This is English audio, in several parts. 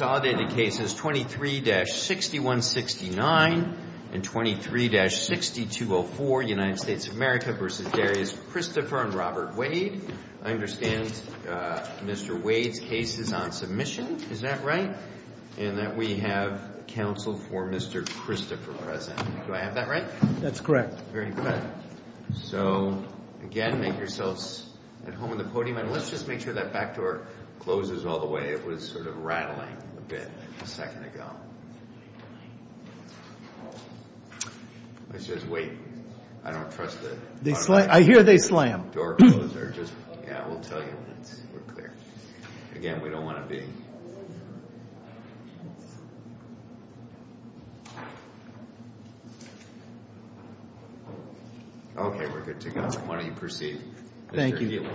and Robert Wade. I understand Mr. Wade's case is on submission. Is that right? And that we have counsel for Mr. Christopher present. Do I have that right? That's correct. Very good. So, again, make yourselves at home on the podium. And let's just make sure that back door closes all the way. It was sort of rattling a bit a second ago. Let's just wait. I don't trust the door closer. I hear they slam. Yeah, we'll tell you when it's clear. Again, we don't want to be... Okay, we're good to go. Why don't you proceed, Mr. Healy.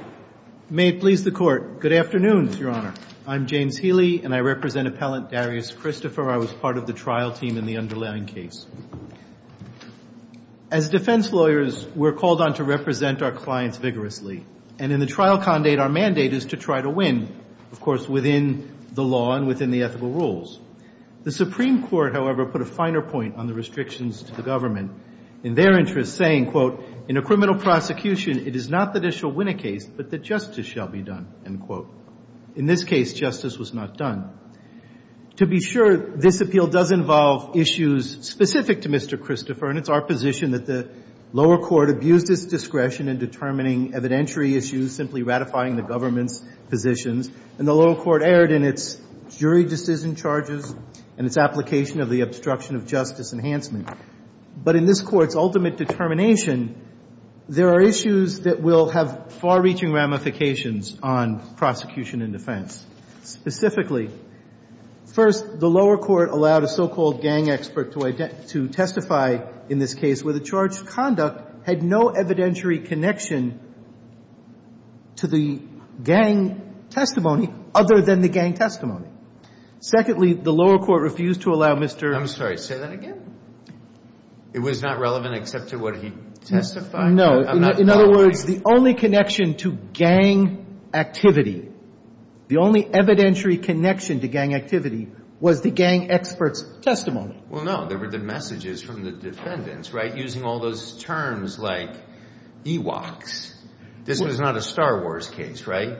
May it please the Court. Good afternoon, Your Honor. I'm James Healy, and I represent appellant Darius Christopher. I was part of the trial team in the underlying case. As defense lawyers, we're called on to represent our clients vigorously. And in the trial condate, our mandate is to try to win, of course, within the law and within the ethical rules. The Supreme Court, however, put a finer point on the restrictions to the government in their interest, saying, quote, in a criminal prosecution, it is not that it shall win a case, but that justice shall be done, end quote. In this case, justice was not done. To be sure, this appeal does involve issues specific to Mr. Christopher, and it's our position that the lower court abused its discretion in determining evidentiary issues, simply ratifying the government's positions. And the lower court erred in its jury decision charges and its application of the obstruction of justice enhancement. But in this Court's ultimate determination, there are issues that will have far-reaching ramifications on prosecution and defense. Specifically, first, the lower court allowed a so-called gang expert to identify to testify in this case where the charge of conduct had no evidentiary connection to the gang testimony other than the gang testimony. Secondly, the lower court refused to allow Mr. I'm sorry. Say that again? It was not relevant except to what he testified? No. In other words, the only connection to gang activity, the only evidentiary connection to gang activity was the gang expert's testimony. Well, no. There were the messages from the defendants, right, using all those terms like Ewoks. This was not a Star Wars case, right?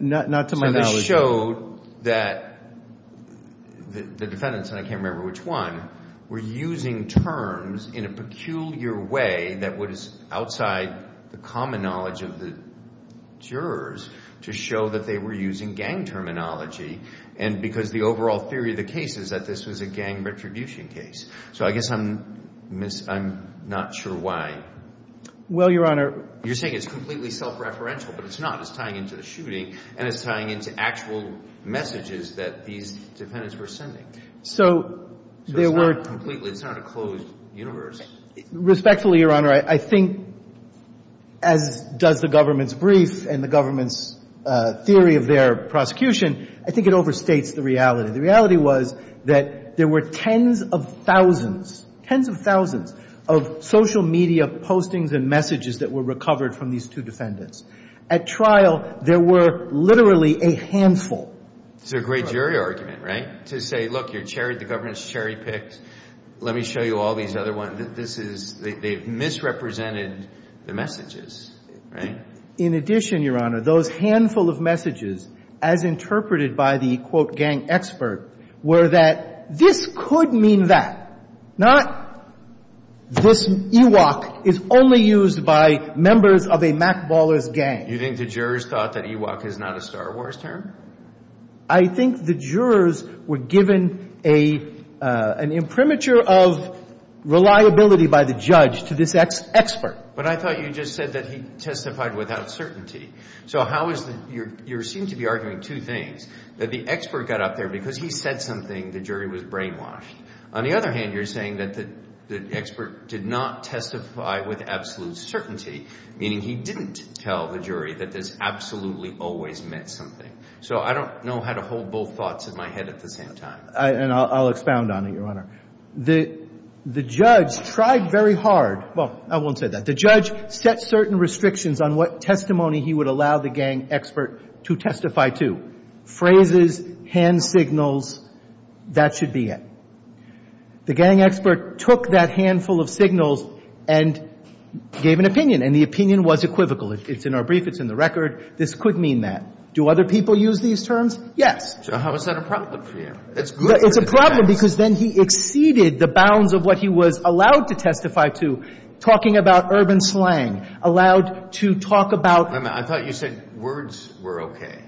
Not to my knowledge. But it showed that the defendants, and I can't remember which one, were using terms in a peculiar way that was outside the common knowledge of the jurors to show that they were using gang terminology. And because the overall theory of the case is that this was a gang retribution case. So I guess I'm not sure why. Well, Your Honor. You're saying it's completely self-referential, but it's not. It's tying into the actual messages that these defendants were sending. So there were So it's not completely. It's not a closed universe. Respectfully, Your Honor, I think, as does the government's brief and the government's theory of their prosecution, I think it overstates the reality. The reality was that there were tens of thousands, tens of thousands of social media postings and messages that were recovered from these two defendants. At trial, there were literally a handful. It's a great jury argument, right? To say, look, the government's cherry-picked. Let me show you all these other ones. This is, they've misrepresented the messages, right? In addition, Your Honor, those handful of messages, as interpreted by the, quote, You think the jurors thought that Ewok is not a Star Wars term? I think the jurors were given an imprimatur of reliability by the judge to this expert. But I thought you just said that he testified without certainty. So how is the, you seem to be arguing two things, that the expert got up there because he said something, the jury was brainwashed. On the other hand, you're saying that the expert did not testify with absolute certainty, meaning he didn't tell the jury that this absolutely always meant something. So I don't know how to hold both thoughts in my head at the same time. And I'll expound on it, Your Honor. The judge tried very hard. Well, I won't say that. The judge set certain restrictions on what testimony he would allow the gang expert to testify to. Phrases, hand signals, that should be it. The gang expert took that handful of signals and gave an opinion. And the opinion was equivocal. It's in our brief. It's in the record. This could mean that. Do other people use these terms? Yes. So how is that a problem for you? It's a problem because then he exceeded the bounds of what he was allowed to testify to, talking about urban slang, allowed to talk about I thought you said words were okay.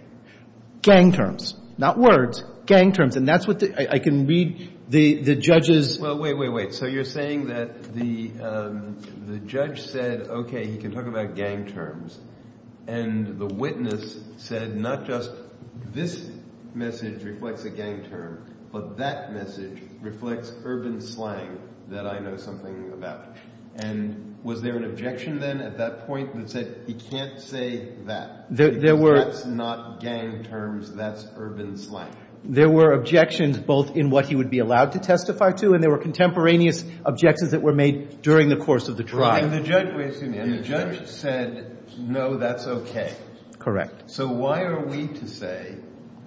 Gang terms. Not words. Gang terms. And that's what the, I can read the judge's Well, wait, wait, wait. So you're saying that the judge said, okay, he can talk about gang terms. And the witness said not just this message reflects a gang term, but that message reflects urban slang that I know something about. And was there an objection then at that point that said he can't say that? There were That's not gang terms. That's urban slang. There were objections both in what he would be allowed to testify to and there were contemporaneous objections that were made during the course of the trial. And the judge said, no, that's okay. Correct. So why are we to say,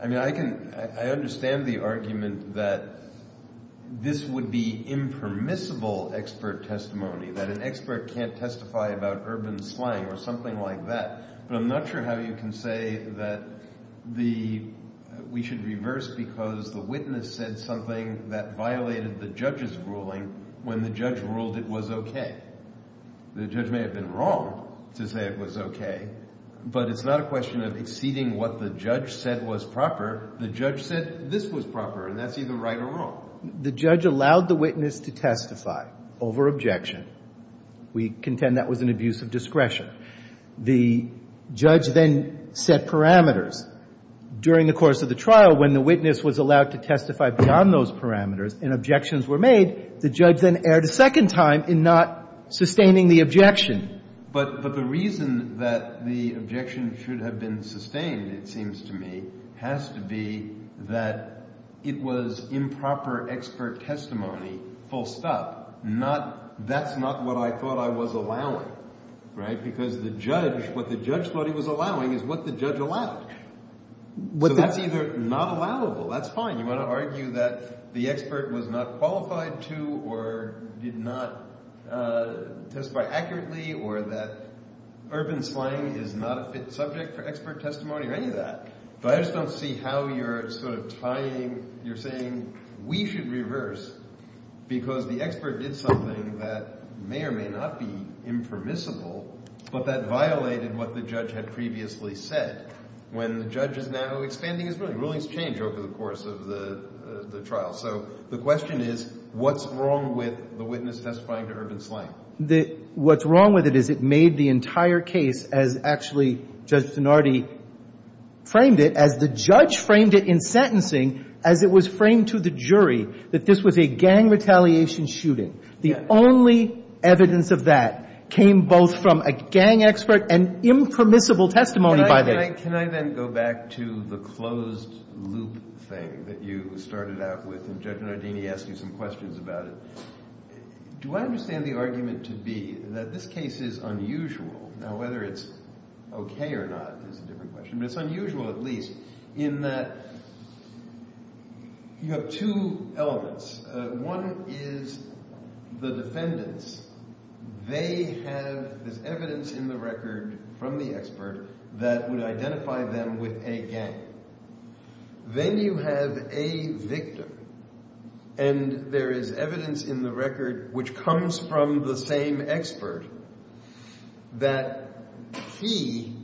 I mean, I can, I understand the argument that this would be impermissible expert testimony, that an expert can't testify about urban slang or But I'm not sure how you can say that the, we should reverse because the witness said something that violated the judge's ruling when the judge ruled it was okay. The judge may have been wrong to say it was okay, but it's not a question of exceeding what the judge said was proper. The judge said this was proper and that's either right or wrong. The judge allowed the witness to testify over objection. We contend that was an abuse of discretion. The judge then set parameters. During the course of the trial, when the witness was allowed to testify beyond those parameters and objections were made, the judge then erred a second time in not sustaining the objection. But the reason that the objection should have been sustained, it seems to me, has to be that it was improper expert testimony, full stop. Not, that's not what I thought I was allowing, right? Because the judge, what the judge thought he was allowing is what the judge allowed. So that's either not allowable, that's fine. You want to argue that the expert was not qualified to or did not testify accurately or that urban slang is not a fit subject for expert testimony or any of that. But I just don't see how you're sort of tying, you're saying we should reverse because the expert did something that may or may not be impermissible, but that violated what the judge had previously said when the judge is now expanding his ruling. Rulings change over the course of the trial. So the question is, what's wrong with the witness testifying to urban slang? What's wrong with it is it made the entire case as actually Judge Zanardi framed it, as the judge framed it in sentencing, as it was framed to the jury, that this was a gang retaliation shooting. The only evidence of that came both from a gang expert and impermissible testimony by the judge. Can I then go back to the closed loop thing that you started out with and Judge Zanardini asked you some questions about it. Do I understand the argument to be that this case is unusual, now whether it's okay or not is a different question, but it's unusual at least in that you have two elements. One is the defendants. They have this evidence in the record from the expert that would identify them with a gang. Then you have a victim, and there is evidence in the record which comes from the same expert that he,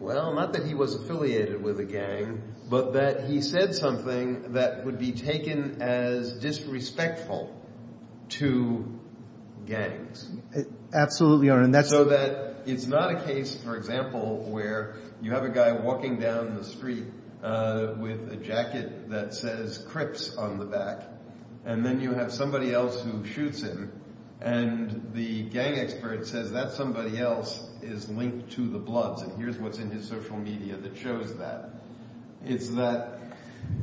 well, not that he was affiliated with a gang, but that he said something that would be taken as disrespectful to gangs. Absolutely. So that it's not a case, for example, where you have a guy walking down the street with a jacket that says Crips on the back, and then you have somebody else who shoots him, and the gang expert says that somebody else is linked to the bloods, and here's what's in his social media that shows that. It's that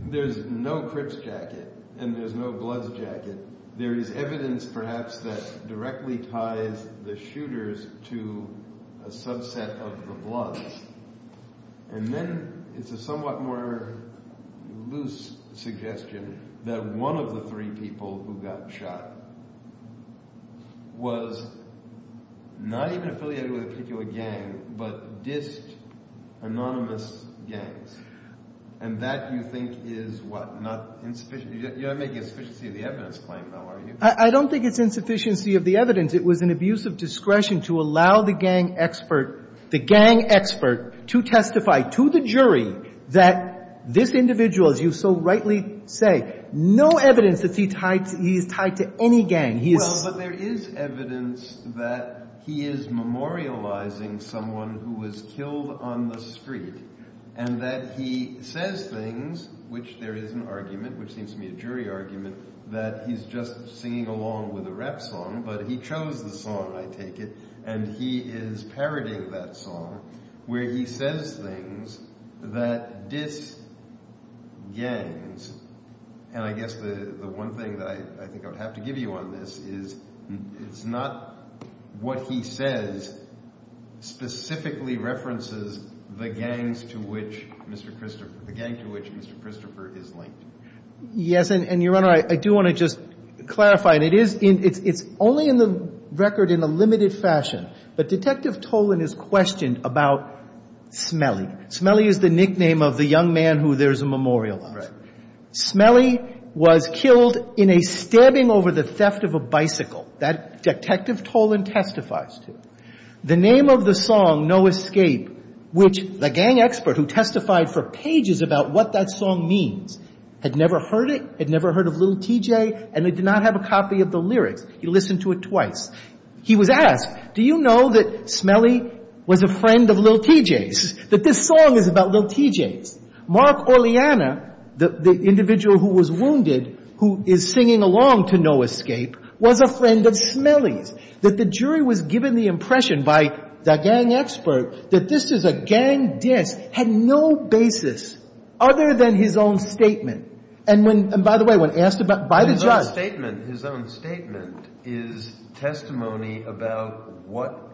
there's no Crips jacket and there's no bloods jacket. There is evidence perhaps that directly ties the shooters to a subset of the bloods, and then it's a somewhat more loose suggestion that one of the three people who got shot was not even affiliated with a particular gang, but dissed anonymous gangs. And that, you think, is what? Not insufficient? You're not making a sufficiency of the evidence claim, though, are you? I don't think it's insufficiency of the evidence. It was an abuse of discretion to allow the gang expert to testify to the jury that this individual, as you so rightly say, no evidence that he's tied to any gang. Well, but there is evidence that he is memorializing someone who was killed on the street, and that he says things, which there is an argument, which seems to me a jury argument, that he's just singing along with a rap song, but he chose the song, I take it, and he is parroting where he says things that diss gangs, and I guess the one thing that I think I would have to give you on this is it's not what he says specifically references the gangs to which Mr. Christopher, the gang to which Mr. Christopher is linked. Yes, and, Your Honor, I do want to just clarify, and it is, it's only in the record in a limited fashion, but Detective Tolan is questioned about Smelly. Smelly is the nickname of the young man who there's a memorial on. Smelly was killed in a stabbing over the theft of a bicycle that Detective Tolan testifies to. The name of the song, No Escape, which the gang expert who testified for pages about what that song means had never heard it, had never heard of Lil' TJ, and they did not have a copy of the lyrics. He listened to it twice. He was asked, do you know that Smelly was a friend of Lil' TJ's, that this song is about Lil' TJ's? Mark Orliana, the individual who was wounded, who is singing along to No Escape, was a friend of Smelly's, that the jury was given the impression by the gang expert that this is a gang diss, had no basis other than his own statement, and when, and by the way, when asked about his own statement, his own statement is testimony about what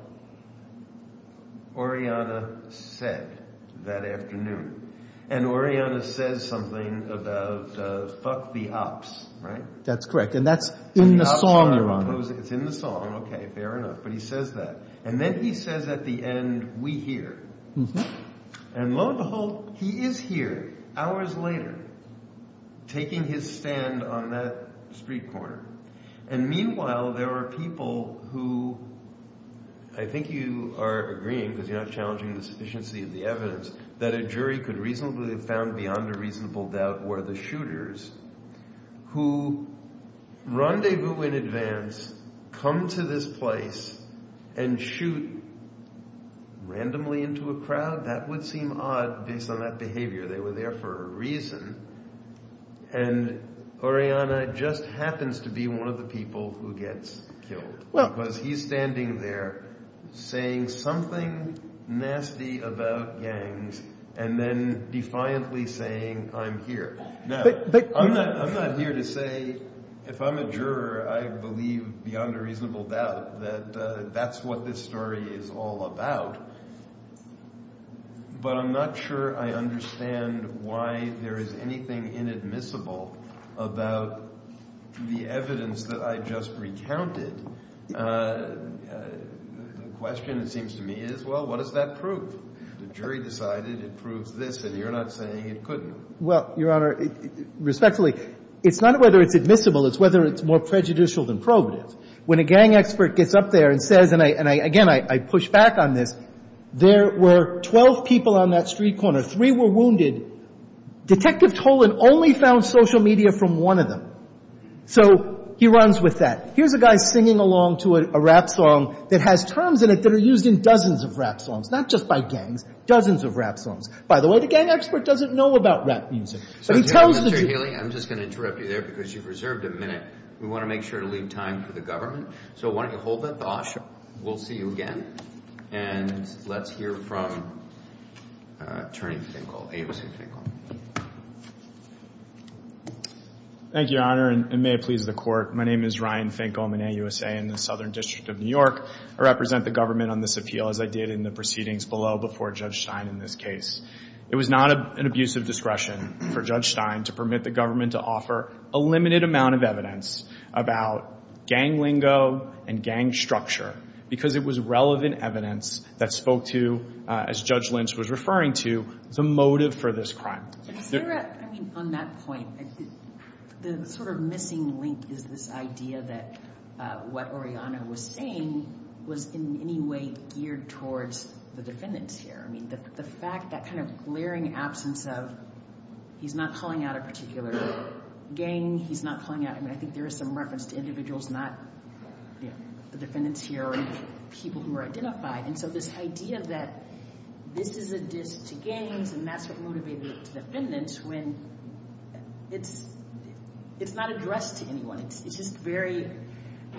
Orliana said that afternoon, and Orliana says something about fuck the ops, right? That's correct, and that's in the song, Your Honor. It's in the song, okay, fair enough, but he says that, and then he says at the end, And lo and behold, he is here, hours later, taking his stand on that street corner, and meanwhile, there are people who, I think you are agreeing, because you're not challenging the sufficiency of the evidence, that a jury could reasonably have found beyond a reasonable doubt were who rendezvous in advance, come to this place, and shoot randomly into a crowd, that would seem odd based on that behavior, they were there for a reason, and Orliana just happens to be one of the people who gets killed, because he's standing there saying something nasty about gangs, and then defiantly saying, I'm here. Now, I'm not here to say, if I'm a juror, I believe beyond a reasonable doubt that that's what this story is all about, but I'm not sure I understand why there is anything inadmissible about the evidence that I just recounted. The question, it seems to me, is, well, what does that prove? The jury decided it proves this, and you're not saying it couldn't. Well, Your Honor, respectfully, it's not whether it's admissible, it's whether it's more prejudicial than probative. When a gang expert gets up there and says, and again, I push back on this, there were 12 people on that street corner. Three were wounded. Detective Tolan only found social media from one of them. So he runs with that. Here's a guy singing along to a rap song that has terms in it that are used in dozens of rap songs, not just by gangs, dozens of rap songs. By the way, the gang expert doesn't know about rap music, but he tells the jury. I'm just going to interrupt you there because you've reserved a minute. We want to make sure to leave time for the government, so why don't you hold that thought. We'll see you again, and let's hear from Attorney Finkel, AUSA Finkel. Thank you, Your Honor, and may it please the Court. My name is Ryan Finkel. I'm an AUSA in the Southern District of New York. I represent the government on this appeal, as I did in the proceedings below before Judge Stein in this case. It was not an abuse of discretion for Judge Stein to permit the government to offer a limited amount of evidence about gang lingo and gang structure because it was relevant evidence that spoke to, as Judge Lynch was referring to, the motive for this crime. Sarah, I mean, on that point, the sort of missing link is this idea that what Oriana was saying was in any way geared towards the defendants here. I mean, the fact that kind of glaring absence of he's not calling out a particular gang, he's not calling out – I mean, I think there is some reference to individuals, not the defendants here or people who are identified. And so this idea that this is a diss to gangs and that's what motivated it to defendants, when it's not addressed to anyone. It's just very –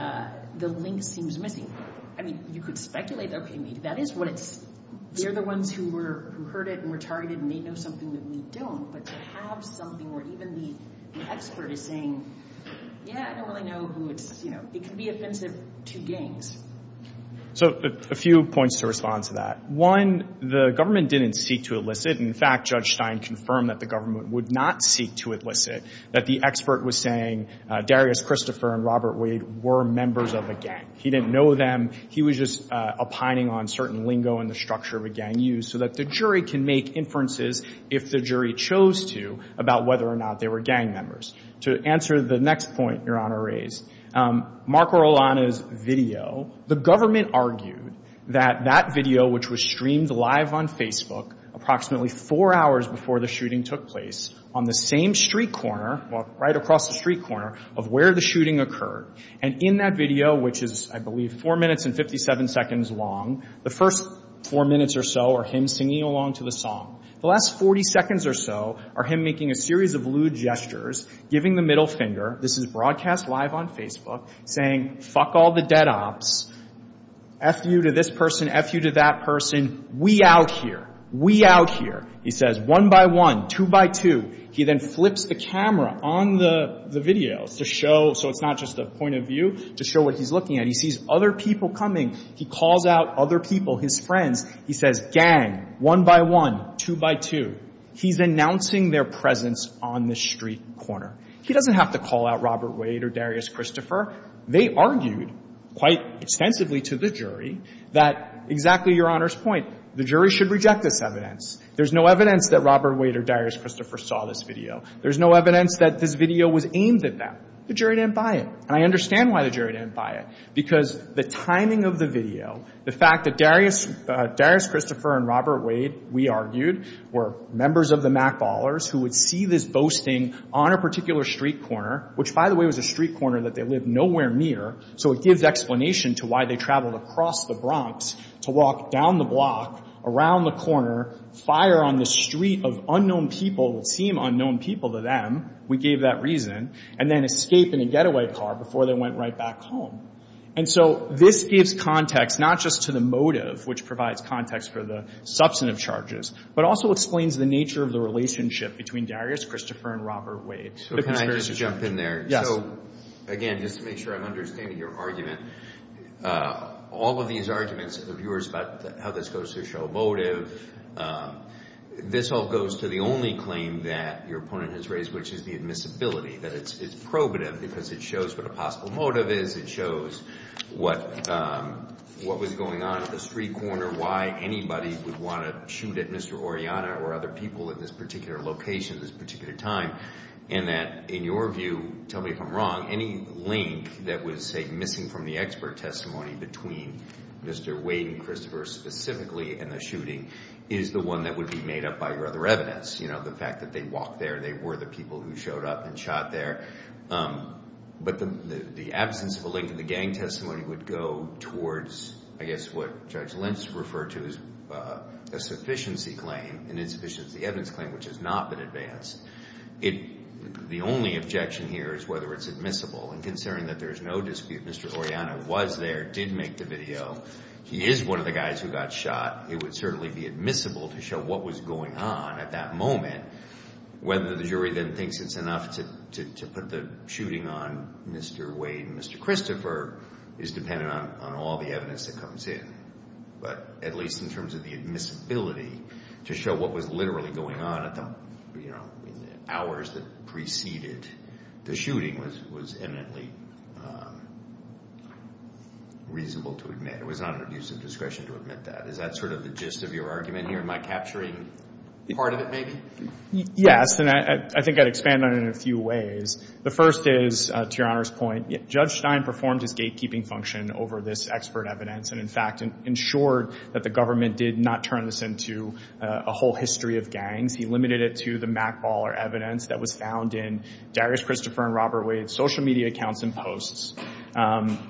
the link seems missing. I mean, you could speculate, okay, maybe that is what it's – they're the ones who heard it and were targeted and may know something that we don't. But to have something where even the expert is saying, yeah, I don't really know who it's – it can be offensive to gangs. So a few points to respond to that. One, the government didn't seek to elicit. In fact, Judge Stein confirmed that the government would not seek to elicit, that the expert was saying Darius Christopher and Robert Wade were members of a gang. He didn't know them. He was just opining on certain lingo and the structure of a gang use so that the jury can make inferences, if the jury chose to, about whether or not they were gang members. To answer the next point Your Honor raised, Marco Rolano's video, the government argued that that video, which was streamed live on Facebook, approximately four hours before the shooting took place, on the same street corner, right across the street corner, of where the shooting occurred. And in that video, which is, I believe, four minutes and 57 seconds long, the first four minutes or so are him singing along to the song. The last 40 seconds or so are him making a series of lewd gestures, giving the middle finger. This is broadcast live on Facebook, saying, fuck all the dead ops, F you to this person, F you to that person, we out here, we out here. He says, one by one, two by two. He then flips the camera on the video to show, so it's not just a point of view, to show what he's looking at. He sees other people coming. He calls out other people, his friends. He says, gang, one by one, two by two. He's announcing their presence on the street corner. He doesn't have to call out Robert Wade or Darius Christopher. They argued quite extensively to the jury that, exactly Your Honor's point, the jury should reject this evidence. There's no evidence that Robert Wade or Darius Christopher saw this video. There's no evidence that this video was aimed at them. The jury didn't buy it. And I understand why the jury didn't buy it, because the timing of the video, the fact that Darius Christopher and Robert Wade, we argued, were members of the Mackballers who would see this boasting on a particular street corner, which, by the way, was a street corner that they lived nowhere near, so it gives explanation to why they traveled across the Bronx to walk down the block, around the corner, fire on the street of unknown people, it would seem unknown people to them, we gave that reason, and then escape in a getaway car before they went right back home. And so this gives context not just to the motive, which provides context for the substantive charges, but also explains the nature of the relationship between Darius Christopher and Robert Wade. So can I just jump in there? Yes. Again, just to make sure I'm understanding your argument, all of these arguments of yours about how this goes to show motive, this all goes to the only claim that your opponent has raised, which is the admissibility, that it's probative because it shows what a possible motive is. It shows what was going on at the street corner, why anybody would want to shoot at Mr. Oriana or other people at this particular location at this particular time, and that, in your view, tell me if I'm wrong, any link that was, say, missing from the expert testimony between Mr. Wade and Christopher specifically and the shooting is the one that would be made up by your other evidence, you know, the fact that they walked there, they were the people who showed up and shot there. But the absence of a link to the gang testimony would go towards, I guess, what Judge Lentz referred to as a sufficiency claim, an insufficiency evidence claim, which has not been advanced. The only objection here is whether it's admissible. And considering that there is no dispute, Mr. Oriana was there, did make the video, he is one of the guys who got shot, it would certainly be admissible to show what was going on at that moment, and whether the jury then thinks it's enough to put the shooting on Mr. Wade and Mr. Christopher is dependent on all the evidence that comes in. But at least in terms of the admissibility, to show what was literally going on at the, you know, in the hours that preceded the shooting was eminently reasonable to admit. It was not an abuse of discretion to admit that. Is that sort of the gist of your argument here? Am I capturing part of it, maybe? Yes, and I think I'd expand on it in a few ways. The first is, to Your Honor's point, Judge Stein performed his gatekeeping function over this expert evidence and, in fact, ensured that the government did not turn this into a whole history of gangs. He limited it to the mackball or evidence that was found in Darius Christopher and Robert Wade's social media accounts and posts,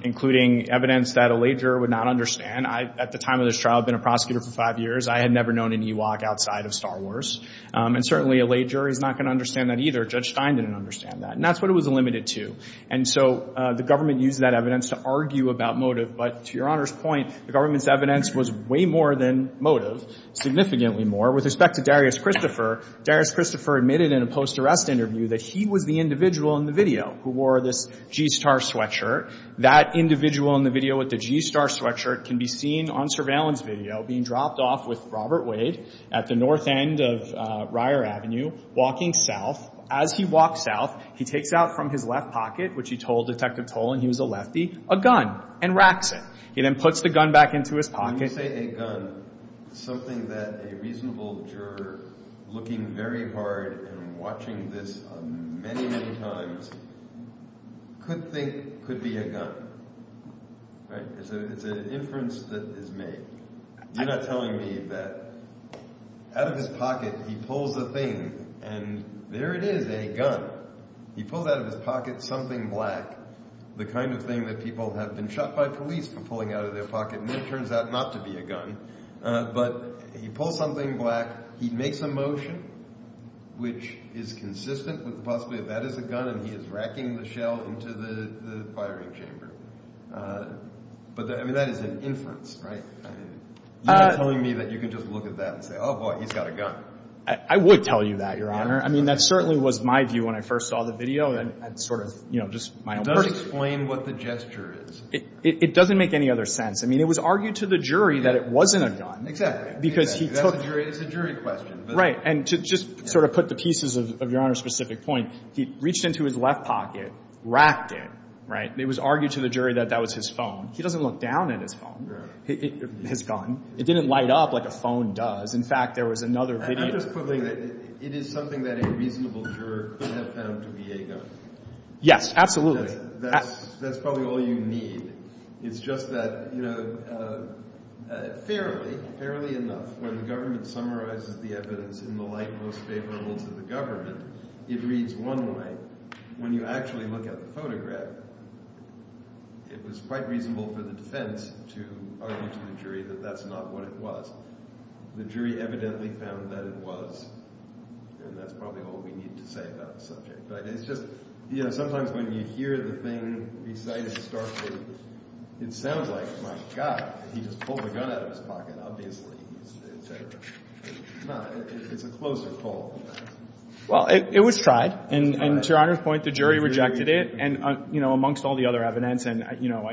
including evidence that a lay juror would not understand. I, at the time of this trial, had been a prosecutor for five years. I had never known any UOC outside of Star Wars. And certainly a lay juror is not going to understand that either. Judge Stein didn't understand that. And that's what it was limited to. And so the government used that evidence to argue about motive. But to Your Honor's point, the government's evidence was way more than motive, significantly more. With respect to Darius Christopher, Darius Christopher admitted in a post-arrest interview that he was the individual in the video who wore this G-Star sweatshirt. That individual in the video with the G-Star sweatshirt can be seen on surveillance video being dropped off with Robert Wade at the north end of Ryer Avenue, walking south. As he walks south, he takes out from his left pocket, which he told Detective Tolan he was a lefty, a gun and racks it. He then puts the gun back into his pocket. When you say a gun, something that a reasonable juror looking very hard and watching this many, many times could think could be a gun, right? It's an inference that is made. You're not telling me that out of his pocket he pulls a thing, and there it is, a gun. He pulls out of his pocket something black, the kind of thing that people have been shot by police for pulling out of their pocket, and then it turns out not to be a gun. But he pulls something black. He makes a motion which is consistent with possibly that that is a gun, and he is racking the shell into the firing chamber. But, I mean, that is an inference, right? I mean, you're telling me that you can just look at that and say, oh, boy, he's got a gun. I would tell you that, Your Honor. I mean, that certainly was my view when I first saw the video and sort of, you know, just my own version. It doesn't explain what the gesture is. It doesn't make any other sense. I mean, it was argued to the jury that it wasn't a gun. Exactly. It's a jury question. Right. And to just sort of put the pieces of Your Honor's specific point, he reached into his left pocket, racked it, right? It was argued to the jury that that was his phone. He doesn't look down at his phone, his gun. It didn't light up like a phone does. In fact, there was another video. It is something that a reasonable juror could have found to be a gun. Yes, absolutely. That's probably all you need. It's just that, you know, fairly, fairly enough, when the government summarizes the evidence in the light most favorable to the government, it reads one way. When you actually look at the photograph, it was quite reasonable for the defense to argue to the jury that that's not what it was. The jury evidently found that it was, and that's probably all we need to say about the subject. But it's just, you know, sometimes when you hear the thing besides starkly, it sounds like, my God, he just pulled a gun out of his pocket, obviously, et cetera. It's not. It's a closer call than that. Well, it was tried. And to Your Honor's point, the jury rejected it. And, you know, amongst all the other evidence, and, you know,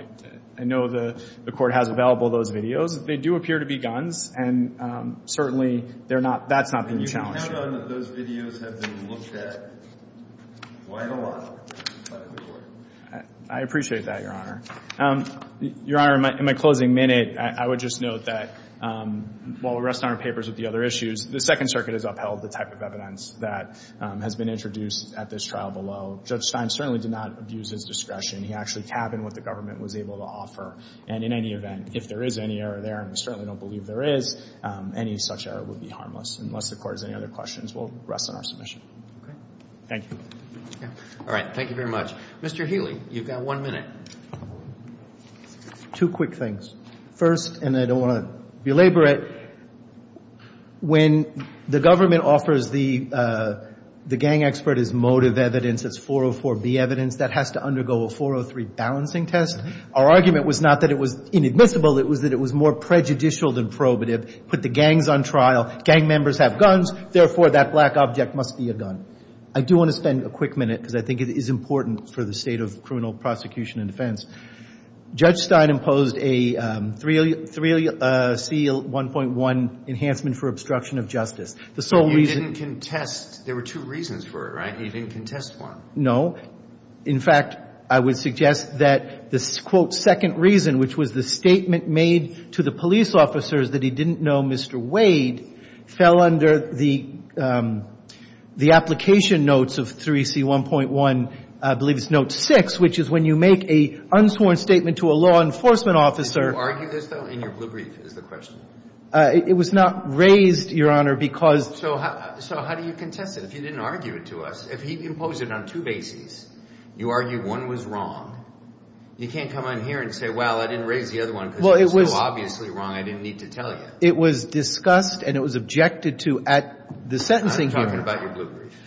I know the Court has available those videos, they do appear to be guns. And certainly they're not – that's not being challenged. Those videos have been looked at quite a lot by the Court. I appreciate that, Your Honor. Your Honor, in my closing minute, I would just note that while we rest on our papers with the other issues, the Second Circuit has upheld the type of evidence that has been introduced at this trial below. Judge Stein certainly did not abuse his discretion. He actually tabbed in what the government was able to offer. And in any event, if there is any error there, and we certainly don't believe there is, any such error would be harmless. Unless the Court has any other questions, we'll rest on our submission. Okay. Thank you. All right. Thank you very much. Mr. Healy, you've got one minute. Two quick things. First, and I don't want to belabor it, when the government offers the gang expert as motive evidence, it's 404B evidence, that has to undergo a 403 balancing test. Our argument was not that it was inadmissible. It was that it was more prejudicial than probative. Put the gangs on trial. Gang members have guns. Therefore, that black object must be a gun. I do want to spend a quick minute, because I think it is important for the state of criminal prosecution and defense. Judge Stein imposed a 3C1.1 enhancement for obstruction of justice. The sole reason — But you didn't contest. There were two reasons for it, right? You didn't contest one. No. In fact, I would suggest that this, quote, second reason, which was the statement made to the police officers that he didn't know Mr. Wade, fell under the application notes of 3C1.1, I believe it's note six, which is when you make an unsworn statement to a law enforcement officer — Did you argue this, though? In your blue brief is the question. It was not raised, Your Honor, because — So how do you contest it if you didn't argue it to us? If he imposed it on two bases, you argue one was wrong, you can't come in here and say, well, I didn't raise the other one because it was so obviously wrong I didn't need to tell you. It was discussed and it was objected to at the sentencing hearing. I'm talking about your blue brief.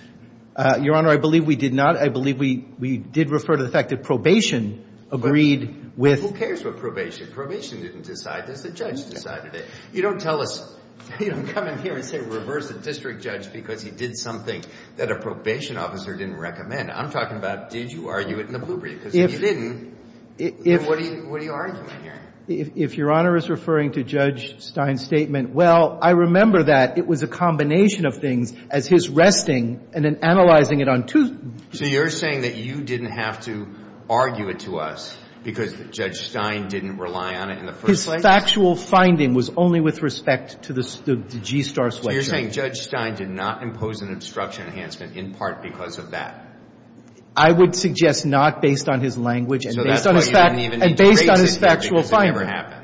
Your Honor, I believe we did not. I believe we did refer to the fact that probation agreed with — Who cares about probation? Probation didn't decide this. The judge decided it. You don't tell us — You don't come in here and say reverse the district judge because he did something that a probation officer didn't recommend. I'm talking about did you argue it in the blue brief? Because if you didn't, then what are you arguing here? If Your Honor is referring to Judge Stein's statement, well, I remember that it was a combination of things as his resting and then analyzing it on two — So you're saying that you didn't have to argue it to us because Judge Stein didn't rely on it in the first place? His factual finding was only with respect to the GSTAR selection. You're saying Judge Stein did not impose an obstruction enhancement in part because of that? I would suggest not based on his language and based on his factual finding. So that's why you didn't even need to raise it because it never happened?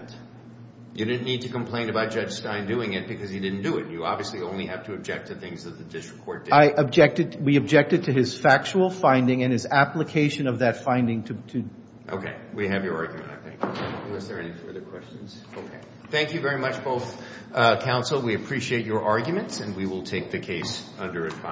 You didn't need to complain about Judge Stein doing it because he didn't do it. You obviously only have to object to things that the district court did. I objected. We objected to his factual finding and his application of that finding to — Okay. We have your argument, I think, unless there are any further questions. Okay. Thank you very much, both counsel. We appreciate your arguments, and we will take the case under a —